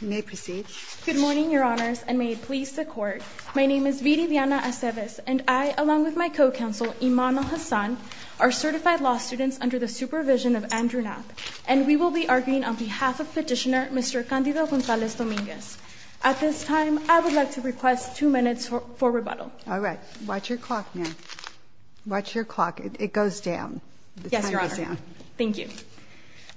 You may proceed. Good morning, Your Honors, and may it please the Court, my name is Viridiana Aceves, and I, along with my co-counsel, Immanuel Hassan, are certified law students under the supervision of Andrew Knapp, and we will be arguing on behalf of Petitioner Mr. Candido Gonzalez Dominguez. At this time, I would like to request two minutes for rebuttal. All right. Watch your clock, ma'am. Watch your clock. It goes down. Yes, Your Honor. Thank you.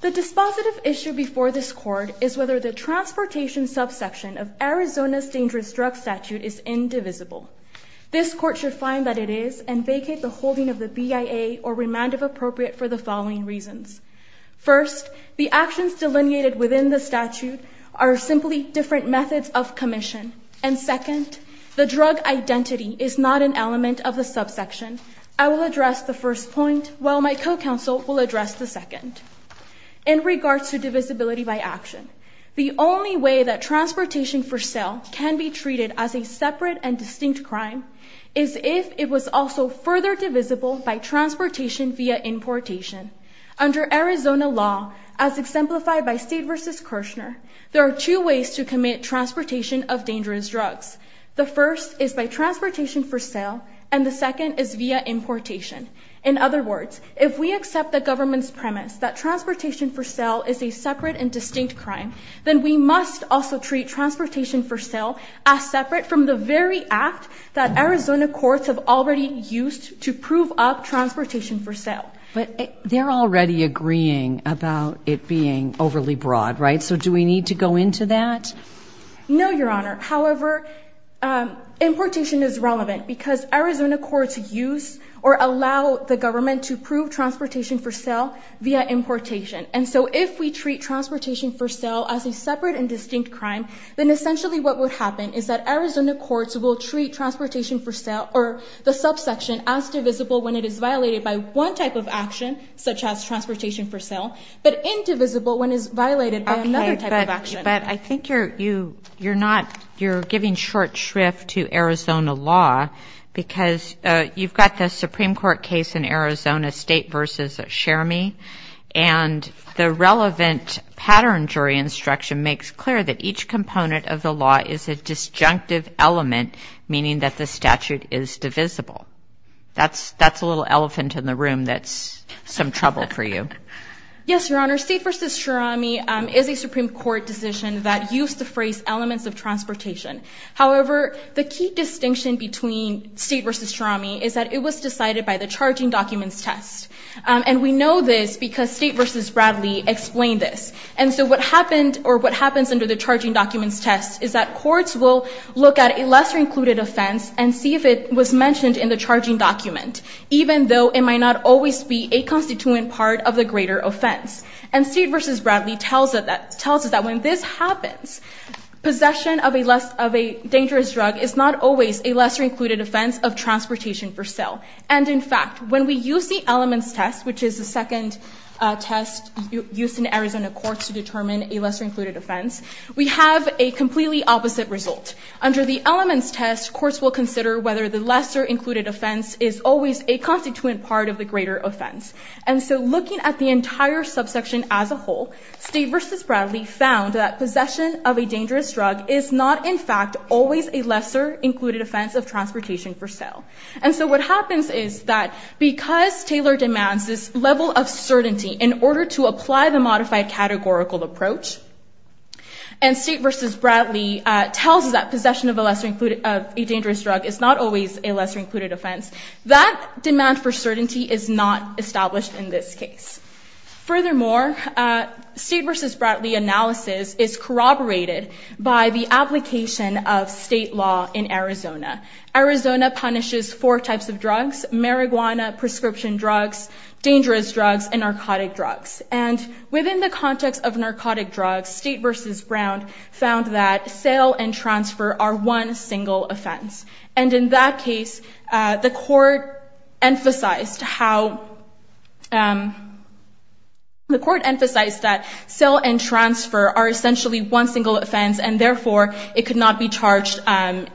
The dispositive issue before this Court is whether the transportation subsection of Arizona's dangerous drug statute is indivisible. This Court should find that it is and vacate the holding of the BIA or remand of appropriate for the following reasons. First, the actions delineated within the statute are simply different methods of commission. And second, the drug identity is not an element of the subsection. I will address the first point while my co-counsel will address the second. In regards to divisibility by action, the only way that transportation for sale can be treated as a separate and distinct crime is if it was also further divisible by transportation via importation. Under Arizona law, as exemplified by State v. Kirchner, there are two ways to commit transportation of dangerous drugs. The first is by transportation for sale and the second is via importation. In other words, if we accept the government's premise that transportation for sale is a separate and distinct crime, then we must also treat transportation for sale as separate from the very act that Arizona courts have already used to prove up transportation for sale. But they're already agreeing about it being overly broad, right? So do we need to go into that? No, Your Honor. However, importation is relevant because Arizona courts use or allow the government to prove transportation for sale via importation. And so if we treat transportation for sale as a separate and distinct crime, then essentially what would happen is that Arizona courts will treat transportation for sale or the subsection as divisible when it is violated by one type of action, such as transportation for sale, but indivisible when it is violated by another type of action. But I think you're giving short shrift to Arizona law because you've got the Supreme Court case in Arizona, State v. Sharmi, and the relevant pattern jury instruction makes clear that each component of the law is a disjunctive element, meaning that the statute is divisible. That's a little elephant in the room that's some trouble for you. Yes, Your Honor. State v. Sharmi is a Supreme Court decision that used to phrase elements of transportation. However, the key distinction between State v. Sharmi is that it was decided by the charging documents test. And we know this because State v. Bradley explained this. And so what happens under the charging documents test is that courts will look at a lesser included offense and see if it was mentioned in the charging document, even though it might not always be a constituent part of the greater offense. And State v. Bradley tells us that when this happens, possession of a dangerous drug is not always a lesser included offense of transportation for sale. And in fact, when we use the elements test, which is the second test used in Arizona courts to determine a lesser included offense, we have a completely opposite result. Under the elements test, courts will consider whether the lesser included offense is always a constituent part of the greater offense. And so looking at the entire subsection as a whole, State v. Bradley found that possession of a dangerous drug is not, in fact, always a lesser included offense of transportation for sale. And so what happens is that because Taylor demands this level of certainty in order to apply the modified categorical approach, and State v. Bradley tells us that possession of a dangerous drug is not always a lesser included offense, that demand for certainty is not established in this case. Furthermore, State v. Bradley analysis is corroborated by the application of state law in Arizona. Arizona punishes four types of drugs, marijuana, prescription drugs, dangerous drugs, and narcotic drugs. And within the context of narcotic drugs, State v. Brown found that sale and transfer are one single offense. And in that case, the court emphasized that sale and transfer are essentially one single offense, and therefore, it could not be charged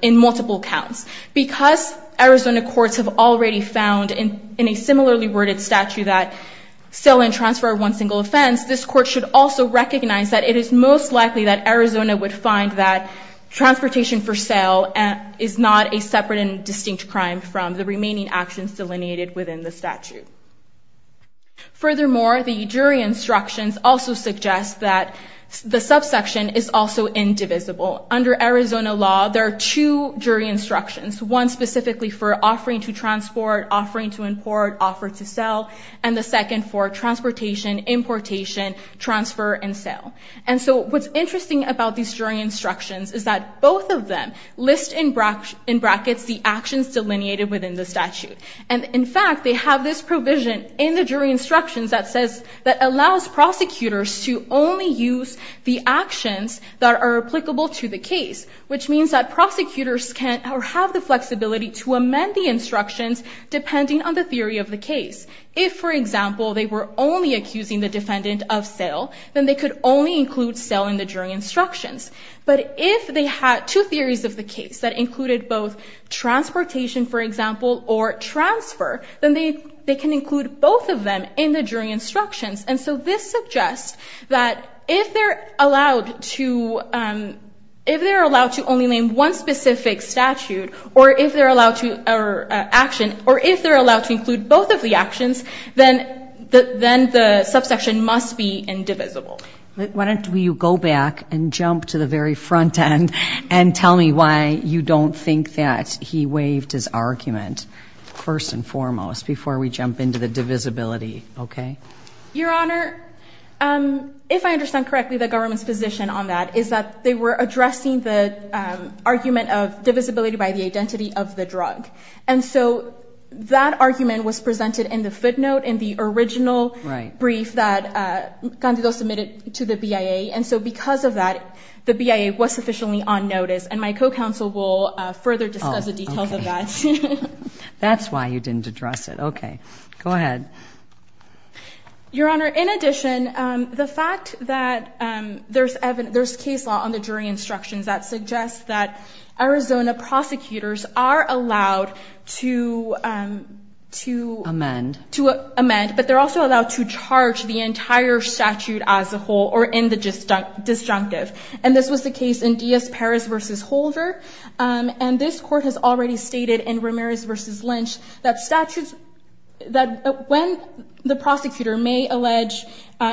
in multiple counts. Because Arizona courts have already found in a similarly worded statute that sale and transfer are one single offense, this court should also recognize that it is most likely that Arizona would find that transportation for sale is not a separate and distinct crime from the remaining actions delineated within the statute. Furthermore, the jury instructions also suggest that the subsection is also indivisible. Under Arizona law, there are two jury instructions, one specifically for offering to transport, offering to import, offer to sell, and the second for transportation, importation, transfer, and sale. And so what's interesting about these jury instructions is that both of them list in brackets the actions delineated within the statute. And in fact, they have this provision in the jury instructions that says that allows prosecutors to only use the actions that are applicable to the case, which means that prosecutors can have the flexibility to amend the instructions depending on the theory of the case. If, for example, they were only accusing the defendant of sale, then they could only include sale in the jury instructions. But if they had two theories of the case that included both transportation, for example, or transfer, then they can include both of them in the jury instructions. And so this suggests that if they're allowed to only name one specific statute or if they're allowed to include both of the actions, then the subsection must be indivisible. Why don't you go back and jump to the very front end and tell me why you don't think that he waived his argument first and foremost before we jump into the divisibility, okay? Your Honor, if I understand correctly, the government's position on that is that they were addressing the argument of divisibility by the identity of the drug. And so that argument was presented in the footnote in the original brief that Candido submitted to the BIA. And so because of that, the BIA was sufficiently on notice. And my co-counsel will further discuss the details of that. That's why you didn't address it. Okay. Go ahead. Your Honor, in addition, the fact that there's case law on the jury instructions that suggests that Arizona prosecutors are allowed to amend, but they're also allowed to charge the entire statute as a whole or in the disjunctive. And this was the case in Diaz-Perez versus Holder. And this court has already stated in Ramirez versus Lynch that when the prosecutor may allege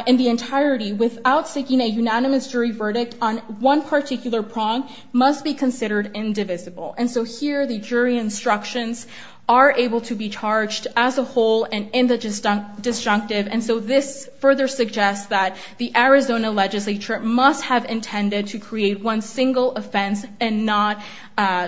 in the entirety without seeking a unanimous jury verdict on one particular prong must be considered indivisible. And so here the jury instructions are able to be charged as a whole and in the disjunctive. And so this further suggests that the Arizona legislature must have intended to create one single offense and not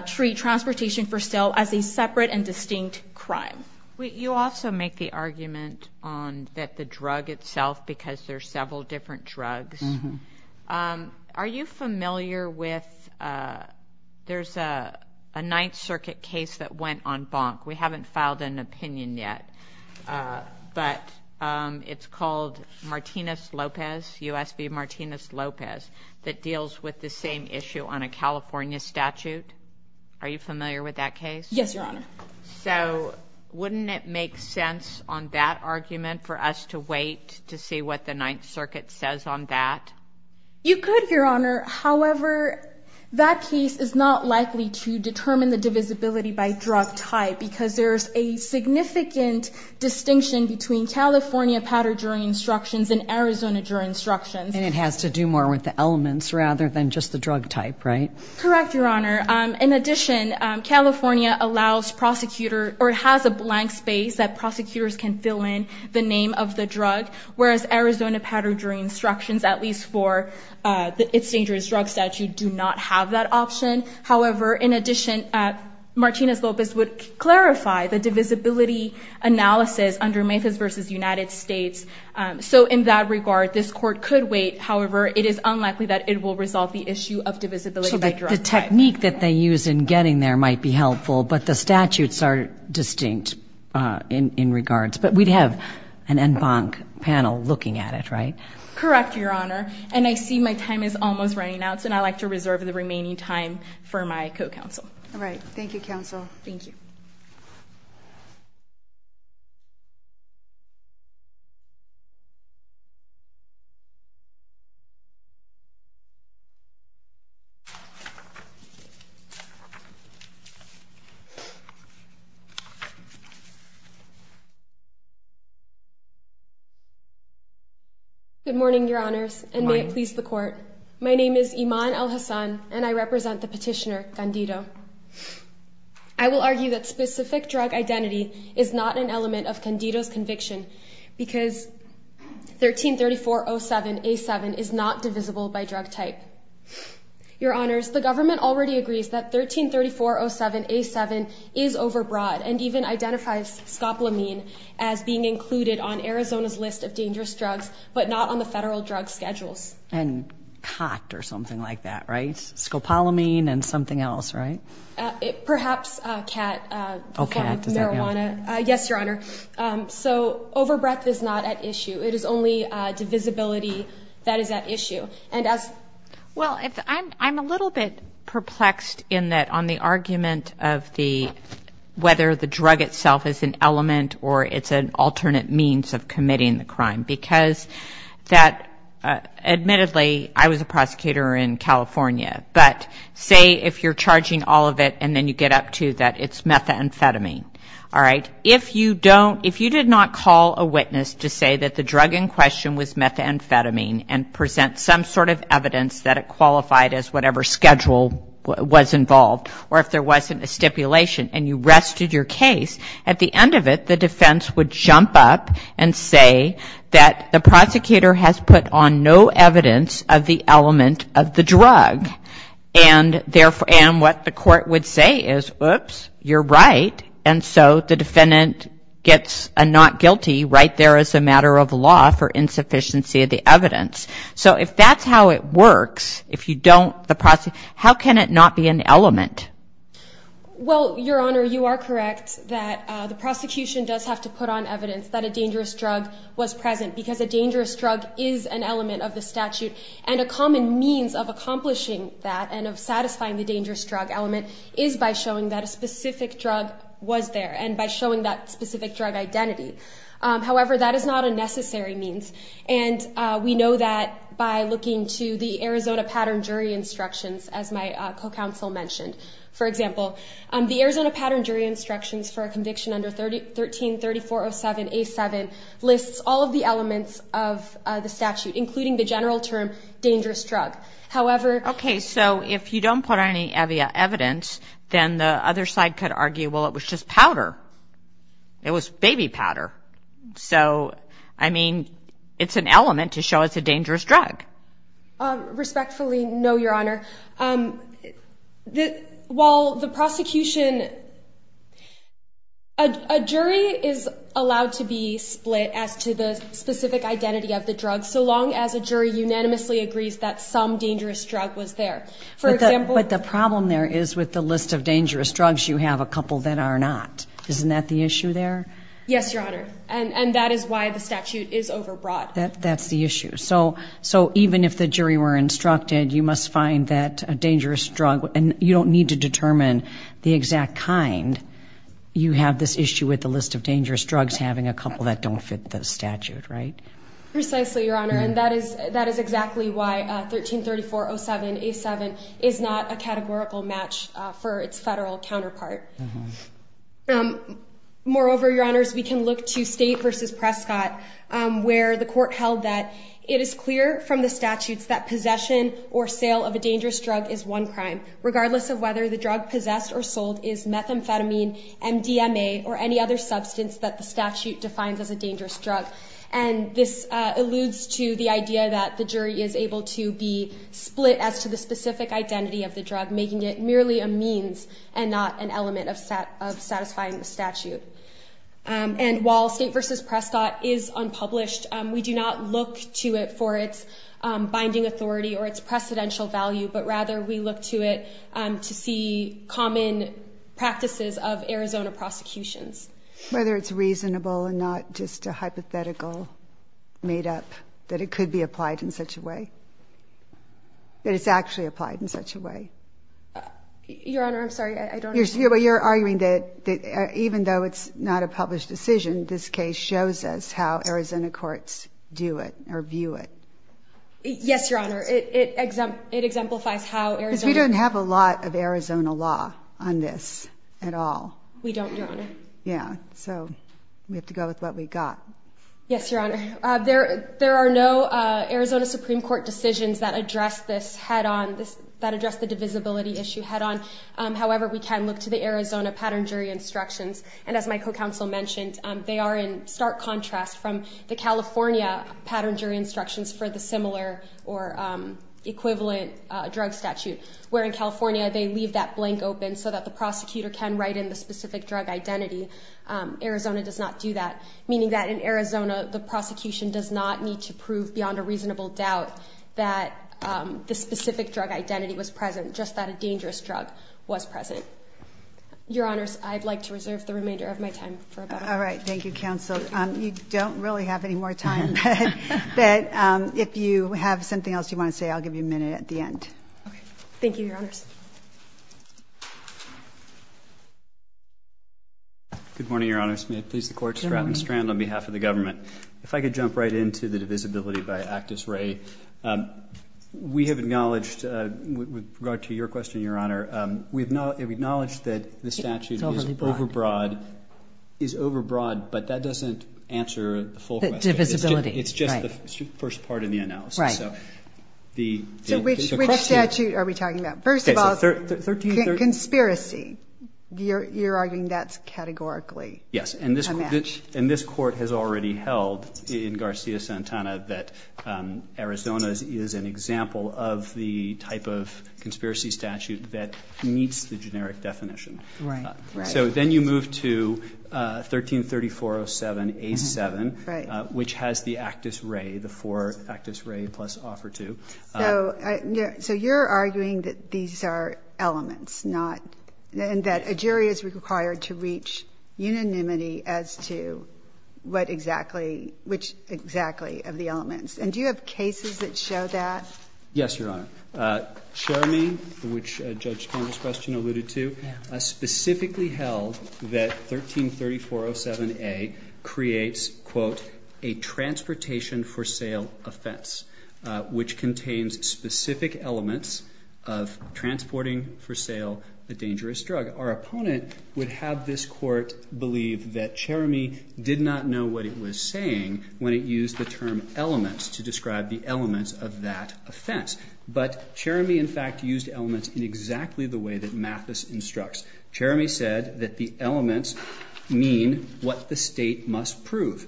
treat transportation for sale as a separate and distinct crime. You also make the argument that the drug itself, because there's several different drugs. Yes, Your Honor. Are you familiar with, there's a Ninth Circuit case that went on bonk. We haven't filed an opinion yet, but it's called Martinez-Lopez, U.S. v. Martinez-Lopez that deals with the same issue on a California statute. Are you familiar with that case? Yes, Your Honor. So wouldn't it make sense on that argument for us to wait to see what the Ninth Circuit says on that? You could, Your Honor. However, that case is not likely to determine the divisibility by drug type because there's a significant distinction between California powder jury instructions and Arizona jury instructions. And it has to do more with the elements rather than just the drug type, right? Correct, Your Honor. In addition, California allows prosecutor or has a blank space that prosecutors can fill in the name of the drug, whereas Arizona powder jury instructions, at least for its dangerous drug statute, do not have that option. However, in addition, Martinez-Lopez would clarify the divisibility analysis under Memphis v. United States. So in that regard, this court could wait. However, it is unlikely that it will resolve the issue of divisibility by drug type. So the technique that they use in getting there might be helpful, but the statutes are distinct in regards. But we'd have an en banc panel looking at it, right? Correct, Your Honor. And I see my time is almost running out, so I'd like to reserve the remaining time for my co-counsel. All right. Thank you, counsel. Thank you. Good morning, Your Honors, and may it please the court. My name is Iman El-Hassan, and I represent the petitioner, Candido. I will argue that specific drug identity is not an element of Candido's conviction because 133407A7 is not divisible by drug type. Your Honors, the government already agrees that 133407A7 is overbroad and even identifies scopolamine as being included on Arizona's list of dangerous drugs, but not on the federal drug schedules. And COT or something like that, right? Scopolamine and something else, right? Perhaps cat marijuana. Oh, cat. Does that count? Yes, Your Honor. So overbreadth is not at issue. It is only divisibility that is at issue. And as — Well, I'm a little bit perplexed in that on the argument of the — whether the drug itself is an element or it's an alternate means of committing the crime. Because that — admittedly, I was a prosecutor in California, but say if you're charging all of it and then you get up to that it's methamphetamine, all right? If you don't — if you did not call a witness to say that the drug in question was methamphetamine and present some sort of evidence that it qualified as whatever schedule was involved or if there wasn't a stipulation and you rested your case, at the end of it, the defense would jump up and say that the prosecutor has put on no evidence of the element of the drug. And therefore — and what the court would say is, oops, you're right. And so the defendant gets a not guilty right there as a matter of law for insufficiency of the evidence. So if that's how it works, if you don't — how can it not be an element? Well, Your Honor, you are correct that the prosecution does have to put on evidence that a dangerous drug was present because a dangerous drug is an element of the statute. And a common means of accomplishing that and of satisfying the dangerous drug element is by showing that a specific drug was there and by showing that specific drug identity. However, that is not a necessary means. And we know that by looking to the Arizona Pattern Jury Instructions, as my co-counsel mentioned. For example, the Arizona Pattern Jury Instructions for a conviction under 13-3407-A-7 lists all of the elements of the statute, including the general term, dangerous drug. However — Okay, so if you don't put on any evidence, then the other side could argue, well, it was just powder. It was baby powder. So, I mean, it's an element to show it's a dangerous drug. Respectfully, no, Your Honor. While the prosecution — a jury is allowed to be split as to the specific identity of the drug so long as a jury unanimously agrees that some dangerous drug was there. For example — But the problem there is with the list of dangerous drugs, you have a couple that are not. Isn't that the issue there? Yes, Your Honor. And that is why the statute is overbroad. That's the issue. So, even if the jury were instructed, you must find that a dangerous drug — and you don't need to determine the exact kind — you have this issue with the list of dangerous drugs having a couple that don't fit the statute, right? Precisely, Your Honor. And that is exactly why 13-3407-A-7 is not a categorical match for its federal counterpart. Moreover, Your Honors, we can look to State v. Prescott, where the court held that it is clear from the statutes that possession or sale of a dangerous drug is one crime, regardless of whether the drug possessed or sold is methamphetamine, MDMA, or any other substance that the statute defines as a dangerous drug. And this alludes to the idea that the jury is able to be split as to the specific identity of the drug, making it merely a means and not an element of satisfying the statute. And while State v. Prescott is unpublished, we do not look to it for its binding authority or its precedential value, but rather we look to it to see common practices of Arizona prosecutions. Whether it's reasonable and not just a hypothetical made up, that it could be applied in such a way. That it's actually applied in such a way. Your Honor, I'm sorry, I don't understand. You're arguing that even though it's not a published decision, this case shows us how Arizona courts do it or view it. Yes, Your Honor. It exemplifies how Arizona... Because we don't have a lot of Arizona law on this at all. We don't, Your Honor. Yeah. So we have to go with what we've got. Yes, Your Honor. There are no Arizona Supreme Court decisions that address this head on, that address the divisibility issue head on. However, we can look to the Arizona pattern jury instructions. And as my co-counsel mentioned, they are in stark contrast from the California pattern jury instructions for the similar or equivalent drug statute, where in California they leave that blank open so that the prosecutor can write in the specific drug identity. Arizona does not do that. Meaning that in Arizona, the prosecution does not need to prove beyond a reasonable doubt that the specific drug identity was present, just that a dangerous drug was present. Your Honors, I'd like to reserve the remainder of my time for about a minute. All right. Thank you, counsel. You don't really have any more time, but if you have something else you want to say, I'll give you a minute at the end. Okay. Thank you, Your Honors. Good morning, Your Honors. May it please the Court to stride and strand on behalf of the government. If I could jump right into the divisibility by Actus Re. We have acknowledged with regard to your question, Your Honor, we have acknowledged that the statute is over broad, is over broad, but that doesn't answer the full question. Divisibility. It's just the first part of the analysis. First of all, we're talking about the divisibility. It's about conspiracy. You're arguing that's categorically a match. Yes. And this Court has already held in Garcia-Santana that Arizona is an example of the type of conspiracy statute that meets the generic definition. Right. Right. So then you move to 13-3407-A-7, which has the Actus Re, the four Actus Re plus offer to. So you're arguing that these are elements, not, and that a jury is required to reach unanimity as to what exactly, which exactly of the elements. And do you have cases that show that? Yes, Your Honor. Cherami, which Judge Campbell's question alluded to, specifically held that 13-3407-A creates, quote, a transportation for sale offense, which contains specific elements of transporting for sale a dangerous drug. Our opponent would have this Court believe that Cherami did not know what it was saying when it used the term elements to describe the elements of that offense. But Cherami, in fact, used elements in exactly the way that Mathis instructs. Cherami said that the elements mean what the state must prove.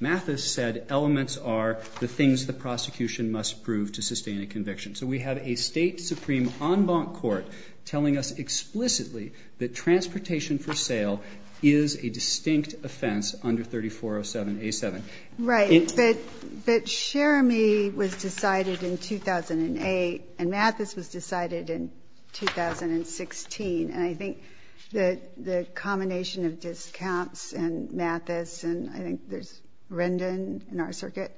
Mathis said elements are the things the prosecution must prove to sustain a conviction. So we have a state supreme en banc court telling us explicitly that transportation for sale is a distinct offense under 13-3407-A-7. Right. But Cherami was decided in 2008, and Mathis was decided in 2016. And I think the combination of discounts and Mathis, and I think there's Rendon in our circuit,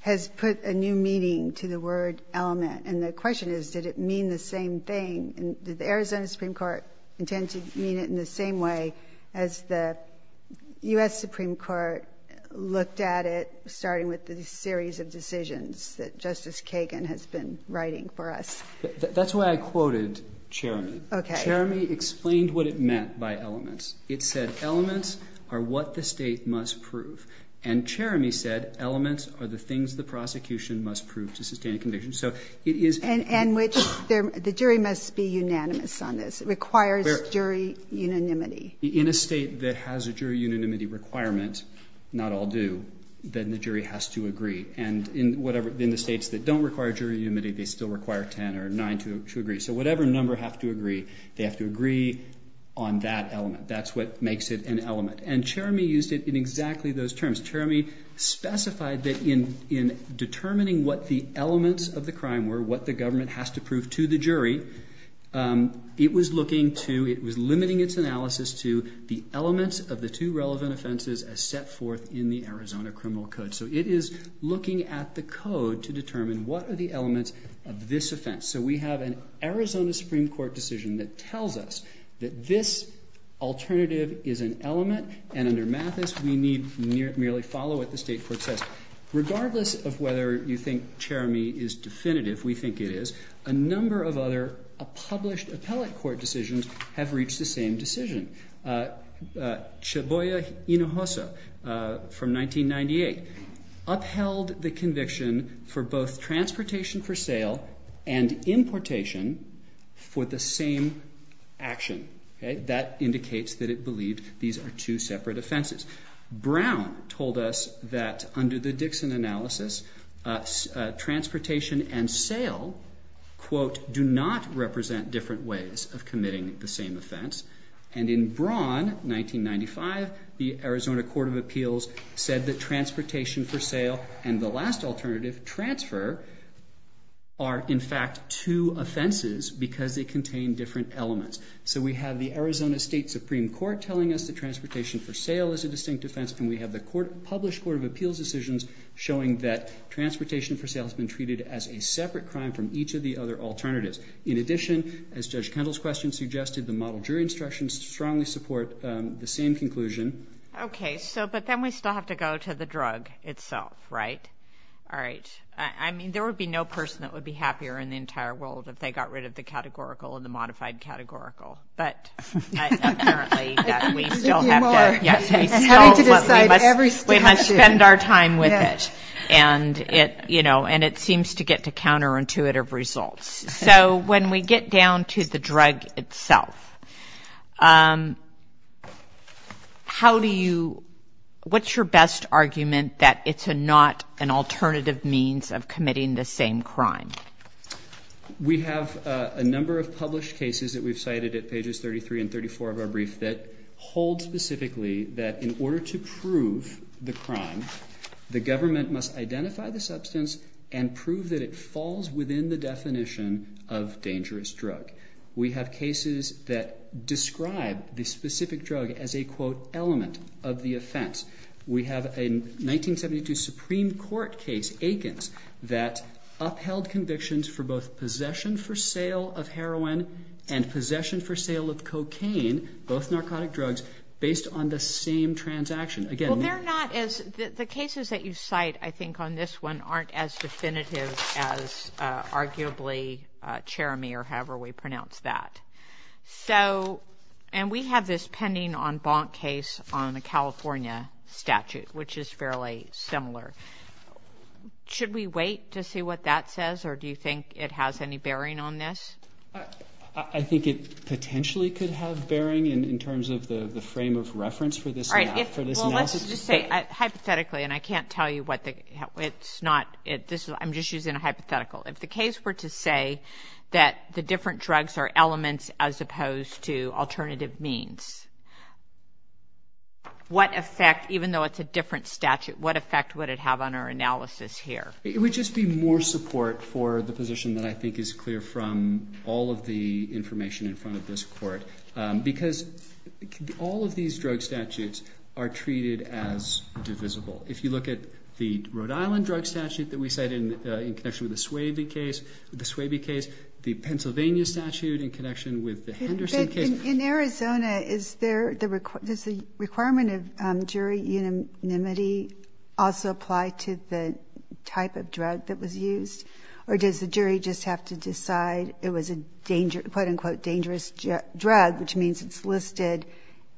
has put a new meaning to the word element. And the question is, did it mean the same thing? And did the Arizona Supreme Court intend to mean it in the same way as the U.S. Supreme Court looked at it, starting with the series of decisions that Justice Kagan has been writing for us? That's why I quoted Cherami. Cherami explained what it meant by elements. It said elements are what the state must prove. And Cherami said elements are the things the prosecution must prove to sustain a conviction. And the jury must be unanimous on this. It requires jury unanimity. In a state that has a jury unanimity requirement, not all do, then the jury has to agree. And in the states that don't require jury unanimity, they still require 10 or 9 to agree. So whatever number have to agree, they have to agree on that element. That's what makes it an element. And Cherami used it in exactly those terms. Cherami specified that in determining what the elements of the crime were, what the government has to prove to the jury, it was limiting its analysis to the elements of the two relevant offenses as set forth in the Arizona Criminal Code. So it is looking at the code to determine what are the elements of this offense. So we have an Arizona Supreme Court decision that tells us that this alternative is an element. And under Mathis, we need merely follow what the state court says. Regardless of whether you think Cherami is definitive, we think it is, a number of other published appellate court decisions have reached the same decision. Cheboye Inohosa from 1998 upheld the conviction for both transportation for sale and importation for the same action. That indicates that it believed these are two separate offenses. Brown told us that under the Dixon analysis, transportation and sale, quote, do not represent different ways of committing the same offense. And in Braun, 1995, the Arizona Court of Appeals said that transportation for sale and the last alternative, transfer, are in fact two offenses because they contain different elements. So we have the Arizona State Supreme Court telling us that transportation for sale is a distinct offense. And we have the published Court of Appeals decisions showing that transportation for sale has been treated as a separate crime from each of the other alternatives. In addition, as Judge Kendall's question suggested, the model jury instructions strongly support the same conclusion. Okay, but then we still have to go to the drug itself, right? All right. I mean, there would be no person that would be happier in the entire world if they got rid of the categorical and the modified categorical. But apparently, we still have to. We have to decide every step of the way. We must spend our time with it. And it seems to get to counterintuitive results. So when we get down to the drug itself, what's your best argument that it's not an alternative means of committing the same crime? We have a number of published cases that we've cited at pages 33 and 34 of our brief that hold specifically that in order to prove the crime, the government must identify the substance and prove that it falls within the definition of dangerous drug. We have cases that describe the specific drug as a, quote, element of the offense. We have a 1972 Supreme Court case, Aikens, that upheld convictions for both possession for sale of heroin and possession for sale of cocaine, both narcotic drugs, based on the same transaction. The cases that you cite, I think on this one, aren't as definitive as, arguably, Cherami or however we pronounce that. And we have this pending en banc case on the California statute, which is fairly similar. Should we wait to see what that says, or do you think it has any bearing on this? I think it potentially could have bearing in terms of the frame of reference for this map. Well, let's just say, hypothetically, and I can't tell you what the, it's not, I'm just using a hypothetical. If the case were to say that the different drugs are elements as opposed to alternative means, what effect, even though it's a different statute, what effect would it have on our analysis here? It would just be more support for the position that I think is clear from all of the information in front of this Court. Because all of these drug statutes are treated as divisible. If you look at the Rhode Island drug statute that we cite in connection with the Swaby case, the Pennsylvania statute in connection with the Henderson case. But in Arizona, is there, does the requirement of jury unanimity also apply to the type of drug that was used? Or does the jury just have to decide it was a quote-unquote dangerous drug, which means it's listed?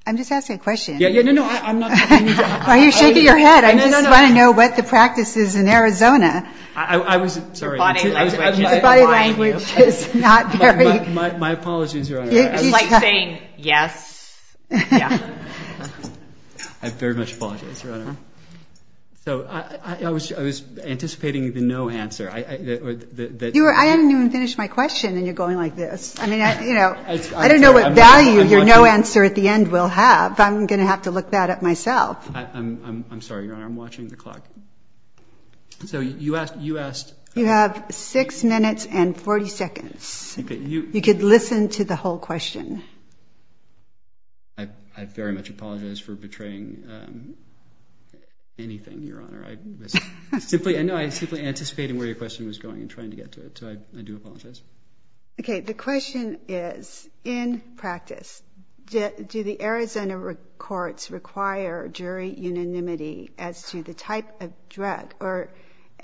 I'm just asking a question. Yeah, no, no, I'm not. Why are you shaking your head? I just want to know what the practice is in Arizona. I was, sorry. Your body language is not very. My apologies, Your Honor. It's like saying, yes, yeah. I very much apologize, Your Honor. So I was anticipating the no answer. I haven't even finished my question and you're going like this. I don't know what value your no answer at the end will have. I'm going to have to look that up myself. I'm sorry, Your Honor. I'm watching the clock. So you asked. You have six minutes and 40 seconds. You could listen to the whole question. I very much apologize for betraying anything, Your Honor. I know I was simply anticipating where your question was going and trying to get to it. So I do apologize. Okay. The question is, in practice, do the Arizona courts require jury unanimity as to the type of drug or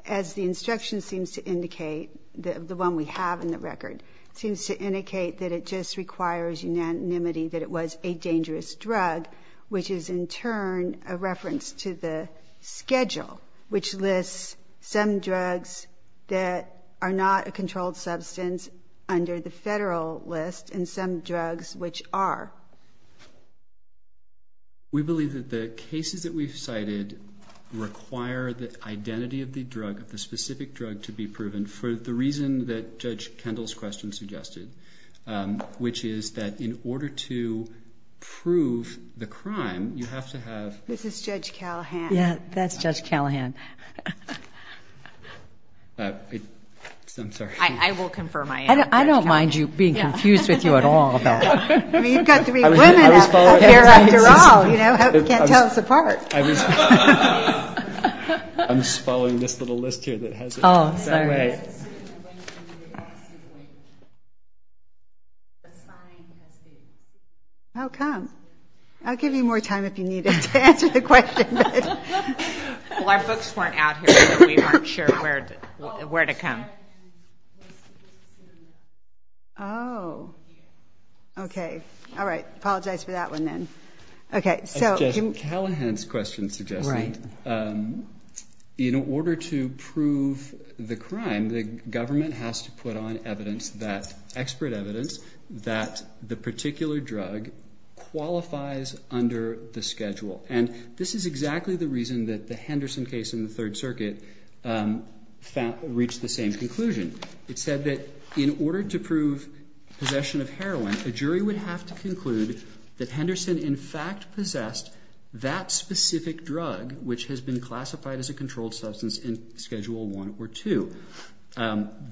as the instruction seems to indicate, the one we have in the record, seems to indicate that it just requires unanimity that it was a dangerous drug, which is in turn a reference to the schedule, which lists some drugs that are not a controlled substance under the federal list and some drugs which are. We believe that the cases that we've cited require the identity of the drug, of the specific drug, to be proven for the reason that Judge Kendall's question suggested, which is that in order to prove the crime, you have to have. This is Judge Callahan. Yeah, that's Judge Callahan. I'm sorry. I will confirm I am. I don't mind you being confused with you at all about that. I mean, you've got three women up here after all. You know, you can't tell us apart. I'm just following this little list here that has it. Oh, sorry. I was going to ask you, like, the sign that says... Oh, come. I'll give you more time if you need it to answer the question. Well, our books weren't out here, so we weren't sure where to come. Oh. Okay. All right. Apologize for that one then. Okay, so... That's Judge Callahan's question suggesting that in order to prove the crime, the government has to put on expert evidence that the particular drug qualifies under the schedule. And this is exactly the reason that the Henderson case in the Third Circuit reached the same conclusion. It said that in order to prove possession of heroin, a jury would have to conclude that Henderson, in fact, possessed that specific drug which has been classified as a controlled substance in Schedule I or II.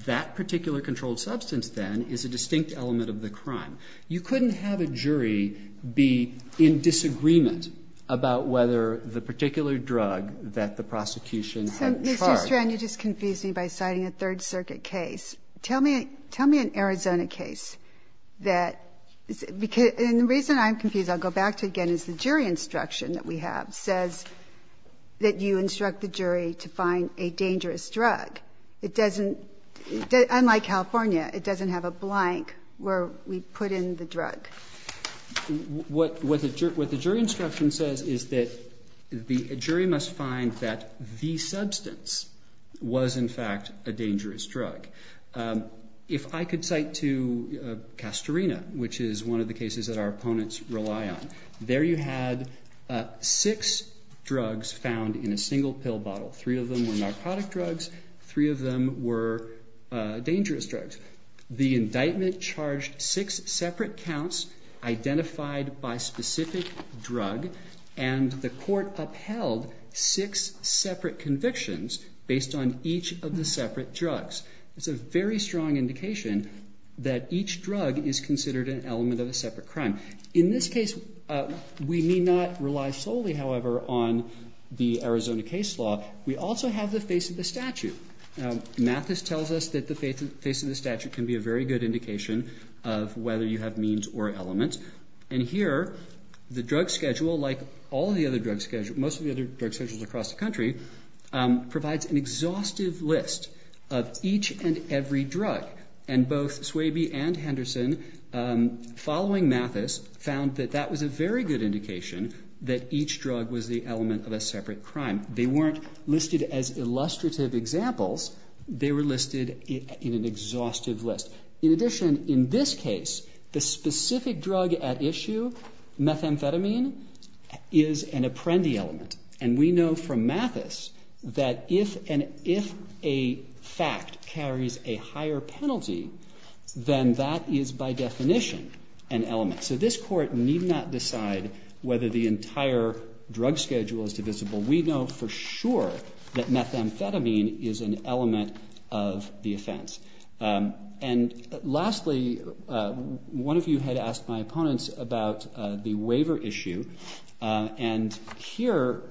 That particular controlled substance, then, is a distinct element of the crime. You couldn't have a jury be in disagreement about whether the particular drug that the prosecution had charged... So, Mr. Strand, you just confused me by citing a Third Circuit case. Tell me an Arizona case that... And the reason I'm confused, I'll go back to it again, is the jury instruction that we have says that you instruct the jury to find a dangerous drug. It doesn't... Unlike California, it doesn't have a blank where we put in the drug. What the jury instruction says is that the jury must find that the substance was, in fact, a dangerous drug. If I could cite to Castorina, which is one of the cases that our opponents rely on, there you had six drugs found in a single pill bottle. Three of them were narcotic drugs, three of them were dangerous drugs. The indictment charged six separate counts identified by specific drug, and the court upheld six separate convictions based on each of the separate drugs. It's a very strong indication that each drug is considered an element of a separate crime. In this case, we may not rely solely, however, on the Arizona case law. We also have the face of the statute. Mathis tells us that the face of the statute can be a very good indication of whether you have means or element. And here, the drug schedule, like all the other drug schedules, most of the other drug schedules across the country, provides an exhaustive list of each and every drug. And both Swaby and Henderson, following Mathis, found that that was a very good indication that each drug was the element of a separate crime. They weren't listed as illustrative examples. They were listed in an exhaustive list. In addition, in this case, the specific drug at issue, methamphetamine, is an apprendi element. And we know from Mathis that if a fact carries a higher penalty, then that is by definition an element. So this court need not decide whether the entire drug schedule is divisible. We know for sure that methamphetamine is an element of the offense. And lastly, one of you had asked my opponents about the waiver issue. And here,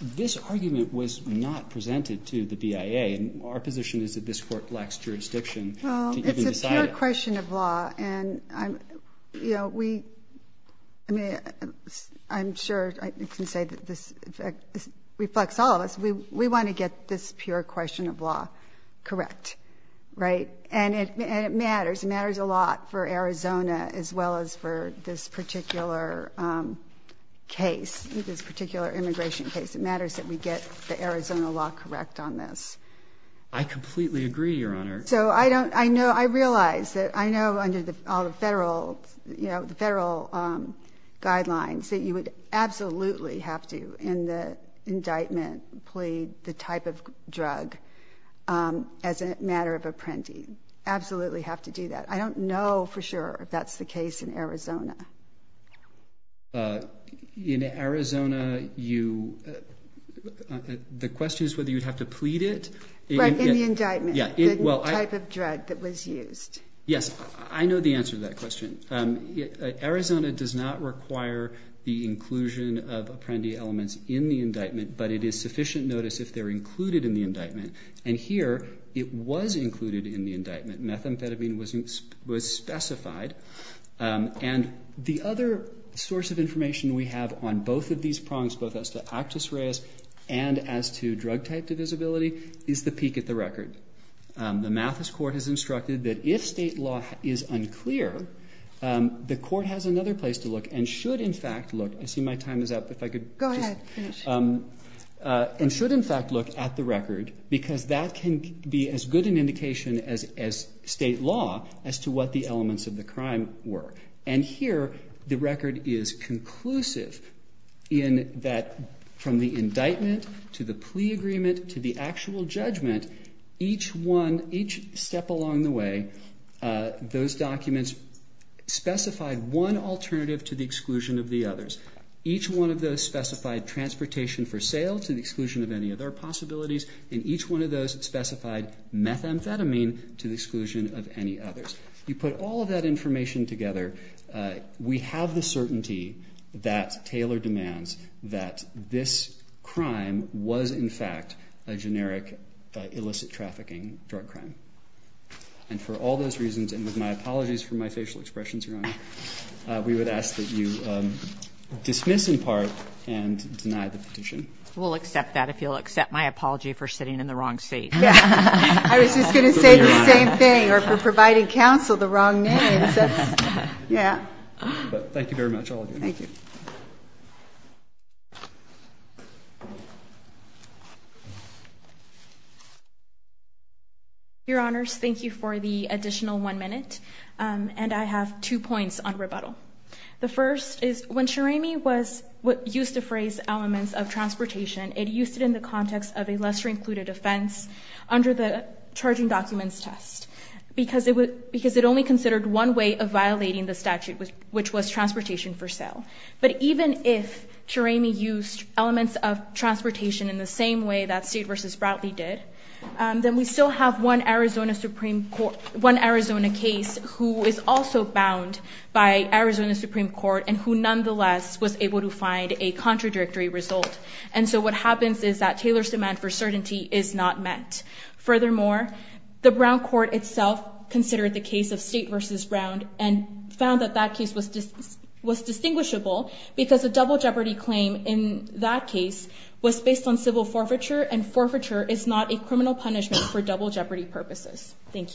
this argument was not presented to the BIA. Our position is that this court lacks jurisdiction. Well, it's a pure question of law. And, you know, we... I mean, I'm sure I can say that this reflects all of us. We want to get this pure question of law correct. Right? And it matters. It matters a lot for Arizona as well as for this particular case, this particular immigration case. It matters that we get the Arizona law correct on this. I completely agree, Your Honor. So I don't... I know... I realize that... I know under all the federal, you know, the federal guidelines that you would absolutely have to, in the indictment, plead the type of drug as a matter of apprendi. Absolutely have to do that. I don't know for sure if that's the case in Arizona. In Arizona, you... The question is whether you'd have to plead it. But in the indictment, the type of drug that was used. Yes, I know the answer to that question. Arizona does not require the inclusion of apprendi elements in the indictment, but it is sufficient notice if they're included in the indictment. And here, it was included in the indictment. Methamphetamine was specified. And the other source of information we have on both of these prongs, both as to actus reus and as to drug type divisibility, is the peek at the record. The Mathis court has instructed that if state law is unclear, the court has another place to look and should, in fact, look... I see my time is up. If I could... Go ahead. Finish. because that can be as good an indication as state law as to what the elements of the crime were. And here, the record is conclusive in that from the indictment to the plea agreement to the actual judgment, each one, each step along the way, those documents specified one alternative to the exclusion of the others. Each one of those specified transportation for sale to the exclusion of any other possibilities, and each one of those specified methamphetamine to the exclusion of any others. You put all of that information together, we have the certainty that Taylor demands that this crime was, in fact, a generic illicit trafficking drug crime. And for all those reasons, and with my apologies for my facial expressions, Your Honor, we would ask that you dismiss, in part, and deny the petition. We'll accept that if you'll accept my apology for sitting in the wrong seat. I was just going to say the same thing, or for providing counsel the wrong name. Thank you very much, all of you. Your Honors, thank you for the additional one minute, and I have two points on rebuttal. The first is, when Shereme was used to phrase elements of transportation, it used it in the context of a lesser-included offense, under the Charging Documents Test, because it only considered one way of violating the statute, which was transportation for sale. But even if Shereme used elements of transportation in the same way that Seed v. Bratley did, then we still have one Arizona case who is also bound by Arizona Supreme Court, and who nonetheless was able to find a contradictory result. And so what happens is that Taylor's demand for certainty is not met. Furthermore, the Brown Court itself considered the case of State v. Brown, and found that that case was distinguishable, because a double jeopardy claim in that case was based on civil forfeiture, and forfeiture is not a criminal punishment for double jeopardy purposes. Thank you.